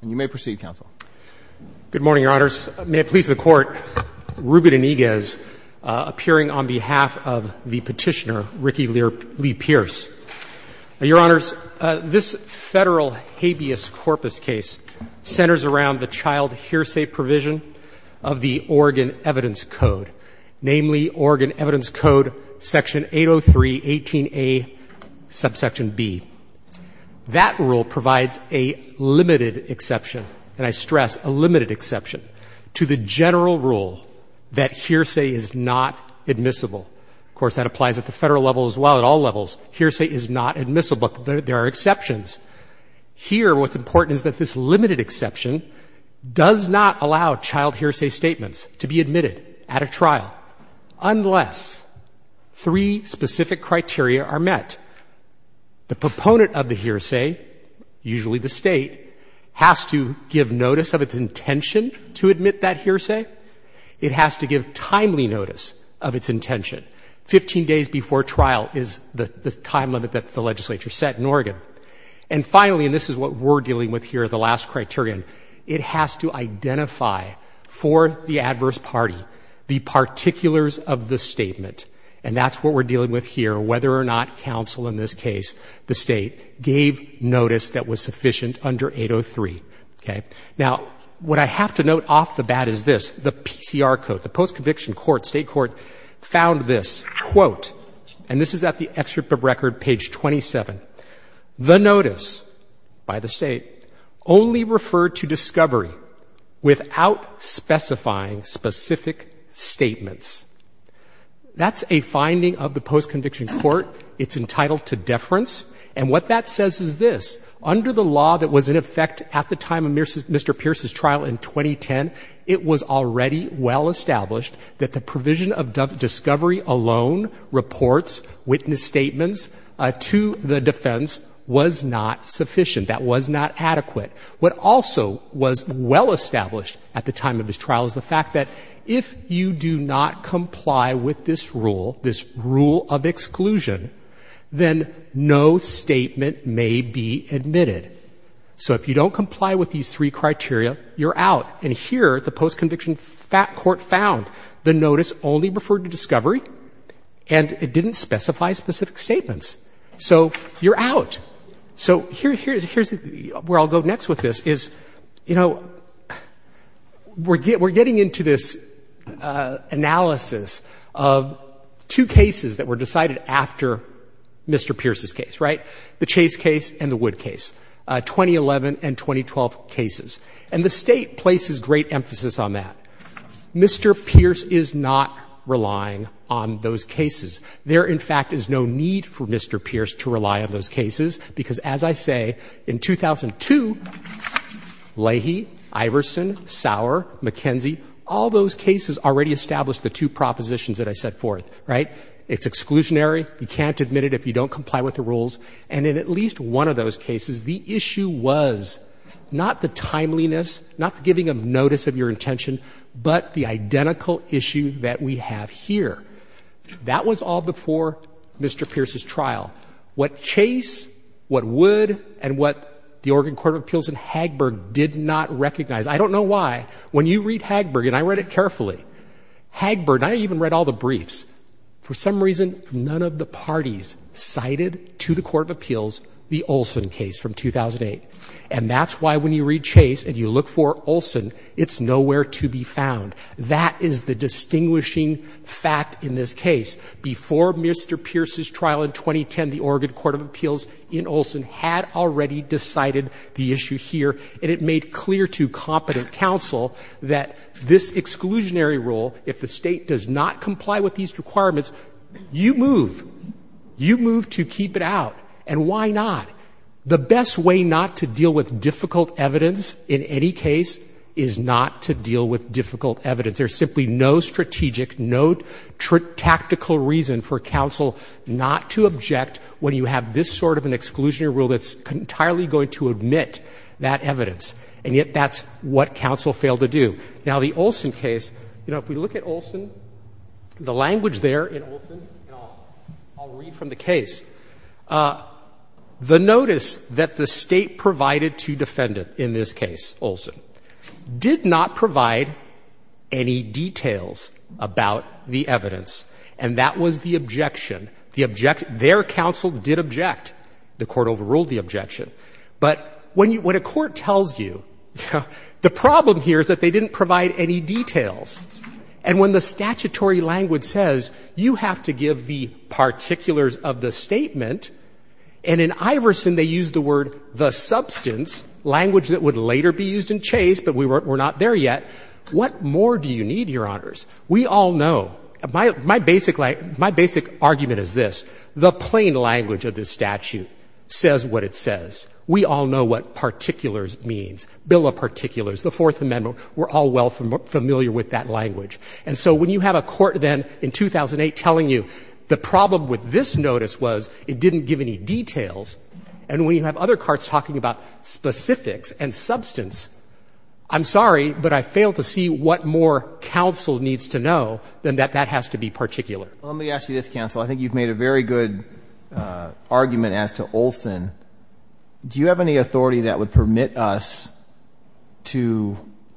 Good morning, Your Honors. May it please the Court, Reuben Eniguez, appearing on behalf of the petitioner, Ricky Lee Pearce. Your Honors, this federal habeas corpus case centers around the child hearsay provision of the Oregon Evidence Code, namely Oregon Evidence Code, Section 803.18a, subsection b. That rule provides a limited exception, and I stress a limited exception, to the general rule that hearsay is not admissible. Of course, that applies at the federal level as well, at all levels. Hearsay is not admissible, but there are exceptions. Here, what's important is that this limited exception does not allow child hearsay statements to be admitted at a trial, unless three specific criteria are met. The proponent of the hearsay, usually the State, has to give notice of its intention to admit that hearsay. It has to give timely notice of its intention. Fifteen days before trial is the time limit that the legislature set in Oregon. And finally, and this is what we're dealing with here, the last criterion, it has to identify for the adverse party the particulars of the statement. And that's what we're dealing with here, whether or not counsel in this case, the State, gave notice that was sufficient under 803. Okay? Now, what I have to note off the bat is this, the PCR code. The post-conviction court, State court, found this, quote, and this is at the excerpt of record, page 27, the notice by the State only referred to discovery without specifying specific statements. That's a finding of the post-conviction court. It's entitled to deference. And what that says is this. Under the law that was in effect at the time of Mr. Pierce's trial in 2010, it was already well established that the provision of discovery alone reports witness statements to the defendant whose defense was not sufficient, that was not adequate. What also was well established at the time of his trial is the fact that if you do not comply with this rule, this rule of exclusion, then no statement may be admitted. So if you don't comply with these three criteria, you're out. And here, the post-conviction court found the notice only referred to discovery, and it didn't specify specific statements. So you're out. So here's where I'll go next with this, is, you know, we're getting into this analysis of two cases that were decided after Mr. Pierce's case, right, the Chase case and the Wood case, 2011 and 2012 cases. And the State places great emphasis on that. Mr. Pierce is not relying on those cases. There, in fact, is no need to rely on Mr. Pierce to rely on those cases, because, as I say, in 2002, Leahy, Iverson, Sauer, McKenzie, all those cases already established the two propositions that I set forth, right? It's exclusionary. You can't admit it if you don't comply with the rules. And in at least one of those cases, the issue was not the timeliness, not the giving of notice of your intention, but the identical issue that we have here. That was all before Mr. Pierce's trial. What Chase, what Wood, and what the Oregon Court of Appeals in Hagberg did not recognize, I don't know why, when you read Hagberg, and I read it carefully, Hagberg, and I even read all the briefs, for some reason, none of the parties cited to the Court of Appeals the Olson case from 2008. And that's why, when you read Chase and you look for Olson, it's nowhere to be found. That is the distinguishing fact in this case. Before Mr. Pierce's trial in 2010, the Oregon Court of Appeals in Olson had already decided the issue here, and it made clear to competent counsel that this exclusionary rule, if the State does not comply with these requirements, you move. You move to keep it out. And why not? The best way not to deal with difficult evidence in any case is not to deal with difficult evidence. There's simply no strategic, no tactical reason for counsel not to object when you have this sort of an exclusionary rule that's entirely going to admit that evidence. And yet, that's what counsel failed to do. Now, the Olson case, you know, if we look at Olson, the language there in Olson, and I'll read from the case, the notice that the State provided to defendant in this case, Olson, did not provide any details about the evidence. And that was the objection. The objection, their counsel did object. The Court overruled the objection. But when a court tells you, the problem here is that they didn't provide any details. And when the statutory language says, you have to give the particulars of the statement, and in Iverson they used the word, the substance, language that would later be used in Chase, but we're not there yet, what more do you need, Your Honors? We all know my basic argument is this, the plain language of this statute says what it says. We all know what particulars means. Bill of Particulars, the Fourth Amendment, we're all well familiar with that language. And so when you have a court then in 2008 telling you the problem with this notice was it didn't give any details, and when you have other courts talking about specifics and substance, I'm sorry, but I fail to see what more counsel needs to know than that that has to be particular. Let me ask you this, counsel. I think you've made a very good argument as to Olson. Do you have any authority that would permit us to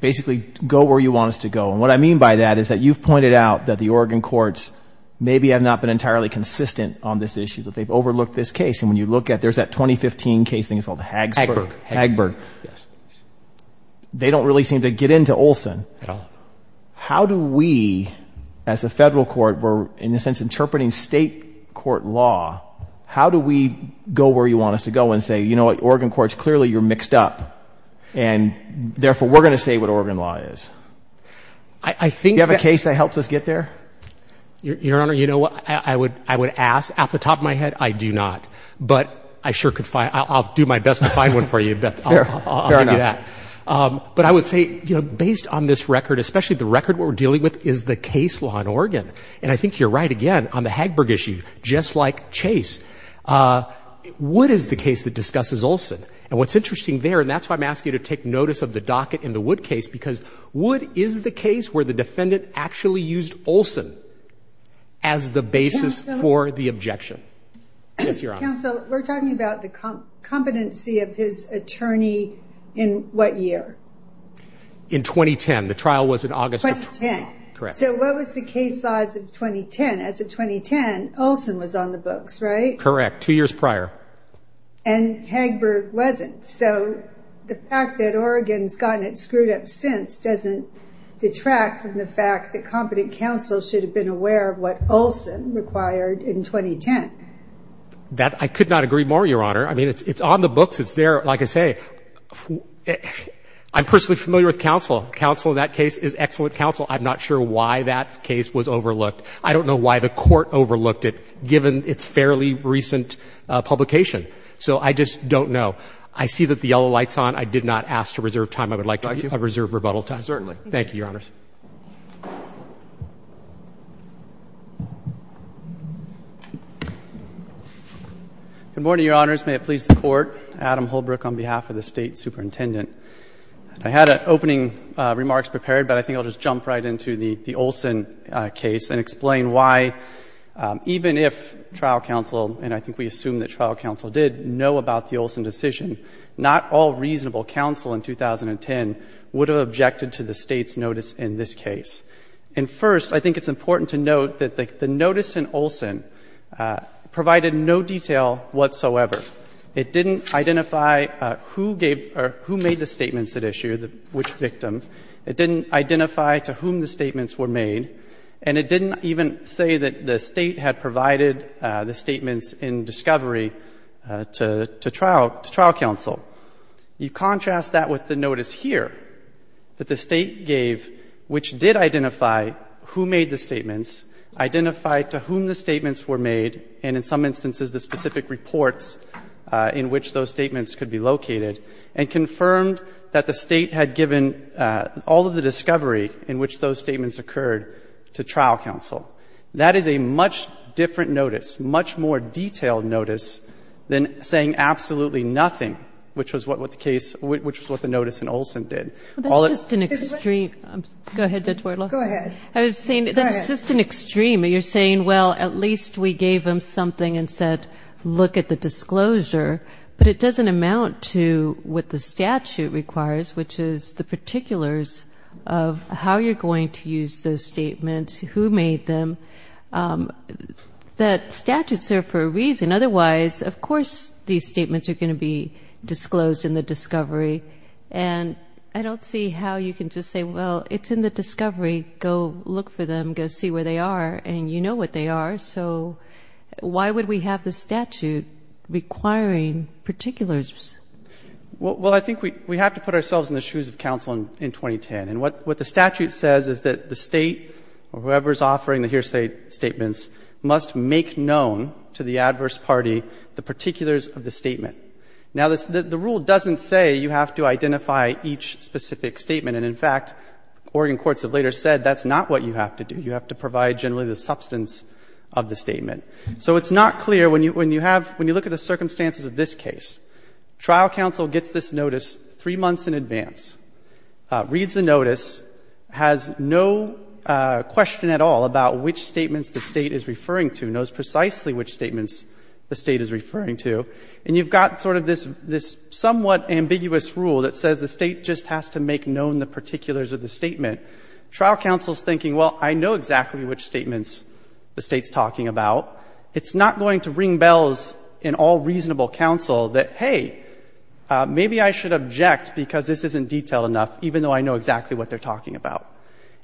basically go where you want us to go? And what I mean by that is that you've pointed out that the Oregon courts maybe have not been entirely consistent on this issue, that they've overlooked this case. And when you look at, there's that 2015 case, I think it's called the Hagsburg. Hagsburg, yes. They don't really seem to get into Olson at all. How do we, as a federal court, we're in a sense interpreting state court law, how do we go where you want us to go and say, you know what, Oregon courts, clearly you're mixed up and therefore we're going to say what Oregon law is? Do you have a case that helps us get there? Your Honor, you know what, I would ask, off the top of my head, I do not. But I sure could find, I'll do my best to find one for you. Fair enough. But I would say, you know, based on this record, especially the record we're dealing with, is the case law in Oregon. And I think you're right again on the Hagsburg issue. Just like Chase. Wood is the case that discusses Olson. And what's interesting there, and that's why I'm asking you to take notice of the docket in the Wood case, because Wood is the case where the defendant actually used Olson as the basis for the objection. Yes, Your Honor. Counsel, we're talking about the competency of his attorney in what year? In 2010. The trial was in August of 2010. So what was the case law as of 2010? As of 2010, Olson was on the books, right? Correct. Two years prior. And Hagsburg wasn't. So the fact that Oregon's gotten it screwed up since doesn't detract from the fact that competent counsel should have been aware of what Olson required in 2010. That, I could not agree more, Your Honor. I mean, it's on the books. It's there. Like I say, I'm personally familiar with counsel. Counsel in that case is excellent counsel. I'm not sure why that case was overlooked. I don't know why the Court overlooked it, given its fairly recent publication. So I just don't know. I see that the yellow light's on. I did not ask to reserve time. I would like to reserve rebuttal time. Certainly. Thank you, Your Honors. Good morning, Your Honors. May it please the Court. Adam Holbrook on behalf of the State Superintendent. I had opening remarks prepared, but I think I'll just jump right into the Olson case and explain why, even if trial counsel, and I think we assume that trial counsel did, know about the Olson decision, not all reasonable counsel in 2010 would have objected to the State's notice in this case. And first, I think it's important to note that the notice in Olson provided no detail whatsoever. It didn't identify who gave or who made the statements at issue, which victim. It didn't identify to whom the statements were made. And it didn't even say that the State had provided the statements in discovery to trial counsel. You contrast that with the notice here, that the State gave, which did identify who made the statements, identified to whom the statements were made, and in some instances, the specific reports in which those statements could be located, and confirmed that the State had given all of the discovery in which those statements occurred to trial counsel. That is a much different notice, much more detailed notice than saying absolutely nothing, which was what the case, which was what the notice in Olson did. Well, that's just an extreme. Go ahead, Dr. Wardlaw. Go ahead. I was saying, that's just an extreme. You're saying, well, at least we gave them something and said, look at the disclosure. But it doesn't amount to what the statute requires, which is the particulars of how you're going to use those statements, who made them. That statute's there for a reason. Otherwise, of course, these statements are going to be disclosed in the discovery. And I don't see how you can just say, well, it's in the discovery. Go look for them. Go see where they are. And you know what they are. So why would we have the statute requiring particulars? Well, I think we have to put ourselves in the shoes of counsel in 2010. And what the statute says is that the State or whoever's offering the hearsay statements must make known to the adverse party the particulars of the statement. Now, the rule doesn't say you have to identify each specific statement. And, in fact, Oregon courts have later said that's not what you have to do. You have to provide generally the substance of the statement. So it's not clear when you have, when you look at the circumstances of this case. Trial counsel gets this notice three months in advance, reads the notice, has no question at all about which statements the State is referring to, knows precisely which statements the State is referring to. And you've got sort of this somewhat ambiguous rule that says the State just has to make known the particulars of the statement. Trial counsel is thinking, well, I know exactly which statements the State's talking about. It's not going to ring bells in all reasonable counsel that, hey, maybe I should object because this isn't detailed enough, even though I know exactly what they're talking about.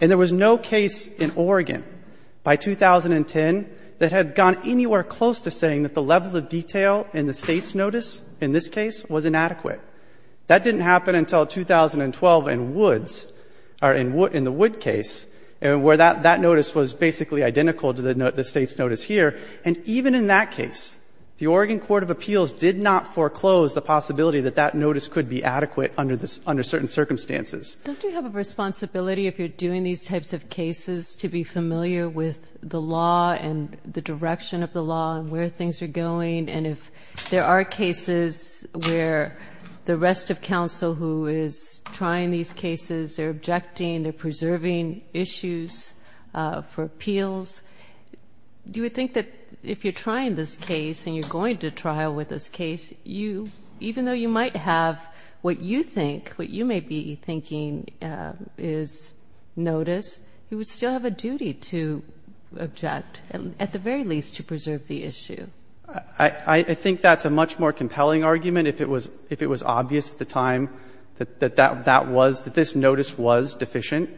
And there was no case in Oregon by 2010 that had gone anywhere close to saying that the level of detail in the State's notice in this case was inadequate. That didn't happen until 2012 in Woods, or in the Wood case, where that notice was basically identical to the State's notice here. And even in that case, the Oregon Court of Appeals did not foreclose the possibility that that notice could be adequate under certain circumstances. Do you have a responsibility, if you're doing these types of cases, to be familiar with the law and the direction of the law and where things are going? And if there are cases where the rest of counsel who is trying these cases, they're objecting, they're preserving issues for appeals, do you think that if you're trying this case and you're going to trial with this case, even though you might have what you think, what you may be thinking is notice, you would still have a duty to object, at the very least to preserve the issue? I think that's a much more compelling argument if it was obvious at the time that that was, that this notice was deficient.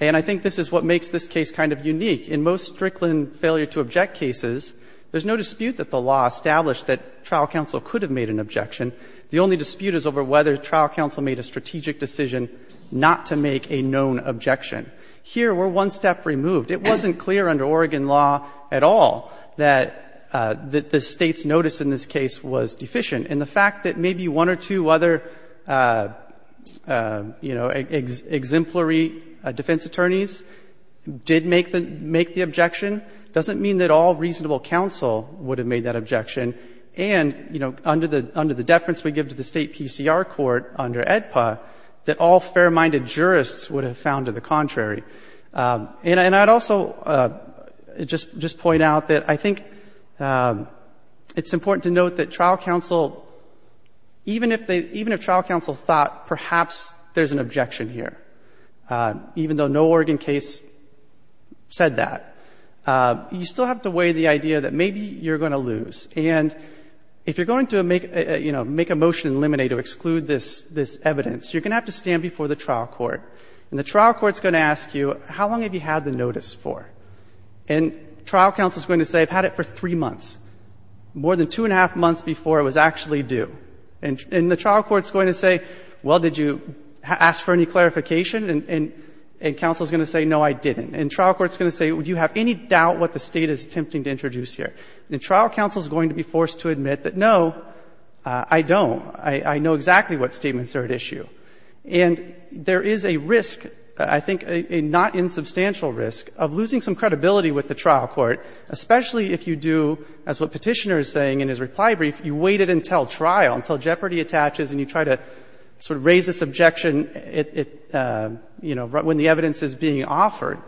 And I think this is what makes this case kind of unique. In most Strickland failure to object cases, there's no dispute that the law established that trial counsel could have made an objection. The only dispute is over whether trial counsel made a strategic decision not to make a known objection. Here, we're one step removed. It wasn't clear under Oregon law at all that the State's notice in this case was deficient. And the fact that maybe one or two other exemplary defense attorneys did make the objection doesn't mean that all reasonable counsel would have made that objection. And under the deference we give to the State PCR court under AEDPA, that all fair-minded jurists would have found to the contrary. And I'd also just point out that I think it's important to note that trial counsel, even if trial counsel thought perhaps there's an objection here, even though no Oregon case said that, you still have to weigh the idea that maybe you're going to lose. And if you're going to make a motion in limine to exclude this evidence, you're going to have to stand before the trial court. And the trial court's going to ask you, how long have you had the notice for? And trial counsel's going to say, I've had it for three months, more than two and a half months before it was actually due. And the trial court's going to say, well, did you ask for any clarification? And counsel's going to say, no, I didn't. And trial court's going to say, do you have any doubt what the State is attempting to introduce here? And trial counsel's going to be forced to admit that, no, I don't. I know exactly what statements are at issue. And there is a risk, I think a not insubstantial risk, of losing some credibility with the trial court, especially if you do, as what Petitioner is saying in his reply brief, you wait it until trial, until jeopardy attaches and you try to sort of raise this objection, you know, when the evidence is being offered.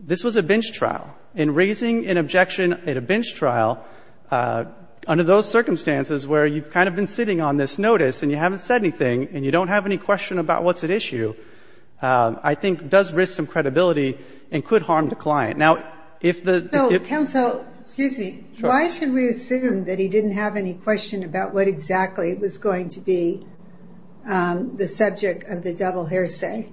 This was a bench trial. And raising an objection at a bench trial under those circumstances where you've kind of been sitting on this notice and you haven't said anything and you don't have any question about what's at issue, I think does risk some credibility and could harm the client. Now, if the ‑‑ So, counsel, excuse me, why should we assume that he didn't have any question about what exactly was going to be the subject of the double hearsay?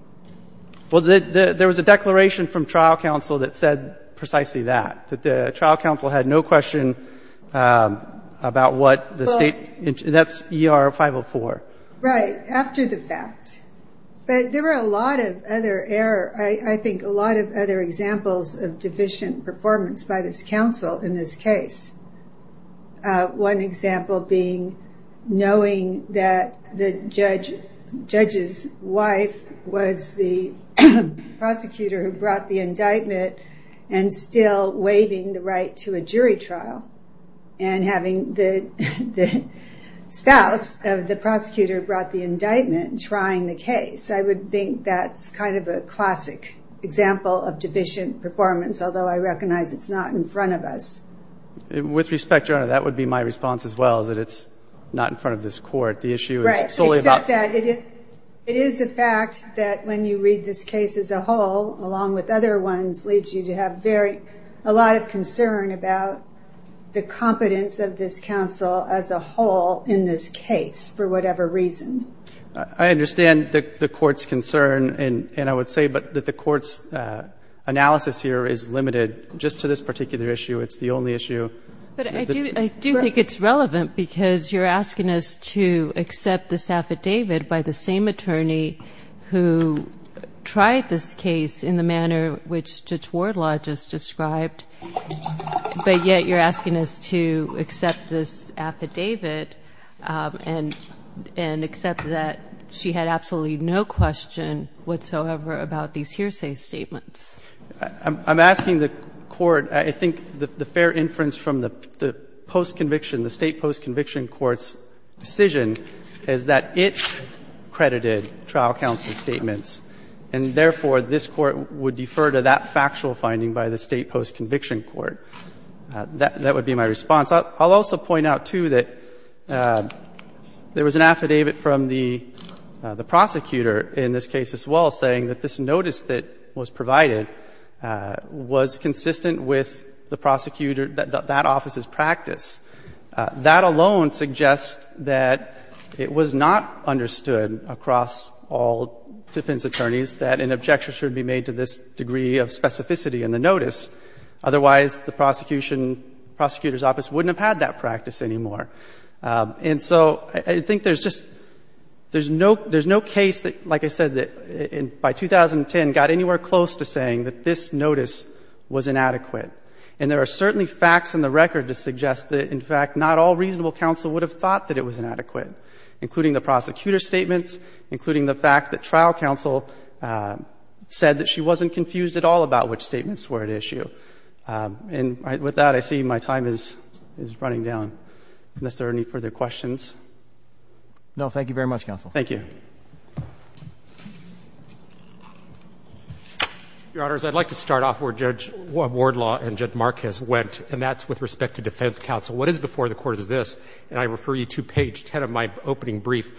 Well, there was a declaration from trial counsel that said precisely that, that the trial counsel had no question about what the State ‑‑ Well ‑‑ That's ER 504. Right, after the fact. But there were a lot of other error, I think a lot of other examples of deficient performance by this counsel in this case. One example being knowing that the judge's wife was the prosecutor who brought the indictment and still waiving the right to a jury trial and having the spouse of the prosecutor brought the indictment trying the case. I would think that's kind of a classic example of deficient performance, although I recognize it's not in front of us. With respect, Your Honor, that would be my response as well, is that it's not in front of this court. The issue is solely about ‑‑ Right, except that it is a fact that when you read this case as a whole, along with other ones, leads you to have a lot of concern about the competence of this counsel as a whole in this case, for whatever reason. I understand the court's concern, and I would say that the court's analysis here is limited just to this particular issue. It's the only issue. But I do think it's relevant because you're asking us to accept this affidavit by the same attorney who tried this case in the manner which Judge Wardlaw just described, but yet you're asking us to accept this affidavit and accept that she had absolutely no question whatsoever about these hearsay statements. I'm asking the court, I think the fair inference from the postconviction, the State postconviction court's decision is that it credited trial counsel And therefore, this Court would defer to that factual finding by the State postconviction court. That would be my response. I'll also point out, too, that there was an affidavit from the prosecutor in this case as well saying that this notice that was provided was consistent with the prosecutor ‑‑ that office's practice. That alone suggests that it was not understood across all defense attorneys that an objection should be made to this degree of specificity in the notice. Otherwise, the prosecution ‑‑ prosecutor's office wouldn't have had that practice anymore. And so I think there's just ‑‑ there's no case that, like I said, that by 2010 got anywhere close to saying that this notice was inadequate. And there are certainly facts in the record to suggest that, in fact, not all reasonable counsel would have thought that it was inadequate, including the prosecutor's statements, including the fact that trial counsel said that she wasn't confused at all about which statements were at issue. And with that, I see my time is running down. Is there any further questions? No. Thank you very much, counsel. Thank you. Roberts. I'd like to start off where Judge Wardlaw and Judge Marquez went, and that's with respect to defense counsel. What is before the Court is this, and I refer you to page 10 of my opening brief.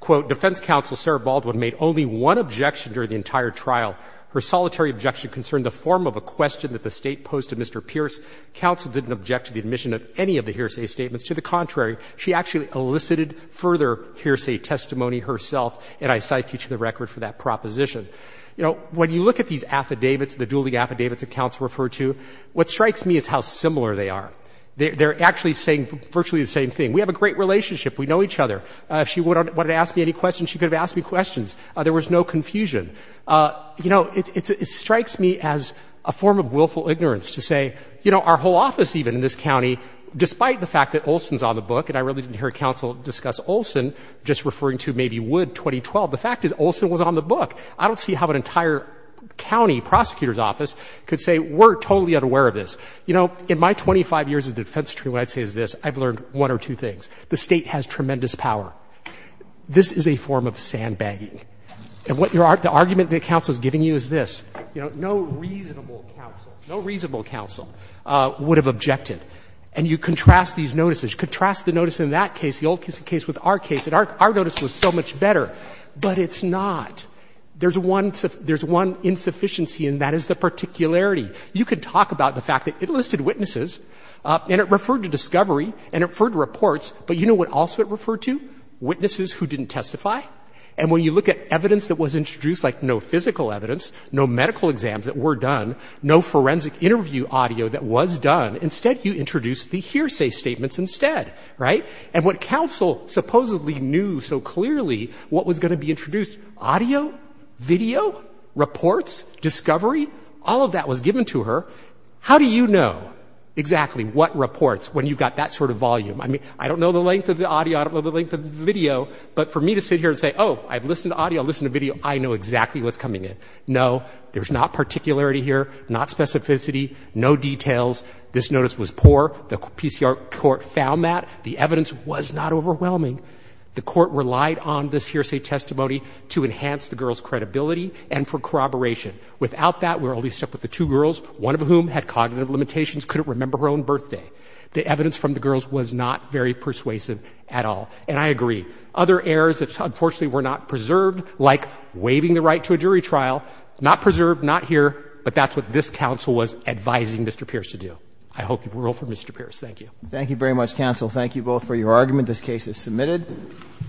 Quote, "'Defense counsel Sarah Baldwin made only one objection during the entire trial. Her solitary objection concerned the form of a question that the State posed to Mr. Pierce. Counsel didn't object to the admission of any of the hearsay statements. To the contrary, she actually elicited further hearsay testimony herself, and I cite you to the record for that proposition.'" You know, when you look at these affidavits, the dueling affidavits that counsel referred to, what strikes me is how similar they are. They're actually saying virtually the same thing. We have a great relationship. We know each other. If she wanted to ask me any questions, she could have asked me questions. There was no confusion. You know, it strikes me as a form of willful ignorance to say, you know, our whole office even in this county, despite the fact that Olson's on the book, and I really didn't hear counsel discuss Olson, just referring to maybe Wood 2012, the fact is Olson was on the book. I don't see how an entire county prosecutor's office could say, we're totally unaware of this. You know, in my 25 years as defense attorney, what I'd say is this. I've learned one or two things. The State has tremendous power. This is a form of sandbagging. And what your argument that counsel is giving you is this. You know, no reasonable counsel, no reasonable counsel would have objected. And you contrast these notices. You contrast the notice in that case, the old case with our case, and our notice was so much better. But it's not. There's one insufficiency, and that is the particularity. You could talk about the fact that it listed witnesses and it referred to discovery and it referred to reports, but you know what else it referred to? Witnesses who didn't testify. And when you look at evidence that was introduced, like no physical evidence, no medical exams that were done, no forensic interview audio that was done, instead you introduce the hearsay statements instead, right? And what counsel supposedly knew so clearly what was going to be introduced, audio, video, reports, discovery, all of that was given to her. How do you know exactly what reports when you've got that sort of volume? I mean, I don't know the length of the audio, I don't know the length of the video, but for me to sit here and say, oh, I've listened to audio, I've listened to video, I know exactly what's coming in. No, there's not particularity here, not specificity, no details. This notice was poor. The PCR court found that. The evidence was not overwhelming. The court relied on this hearsay testimony to enhance the girl's credibility and for corroboration. Without that, we're only stuck with the two girls, one of whom had cognitive limitations, couldn't remember her own birthday. The evidence from the girls was not very persuasive at all. And I agree, other errors that unfortunately were not preserved, like waiving the right to a jury trial, not preserved, not here, but that's what this counsel was advising Mr. Pierce to do. I hope you rule for Mr. Pierce. Thank you. Roberts. Thank you very much, counsel. Thank you both for your argument. This case is submitted.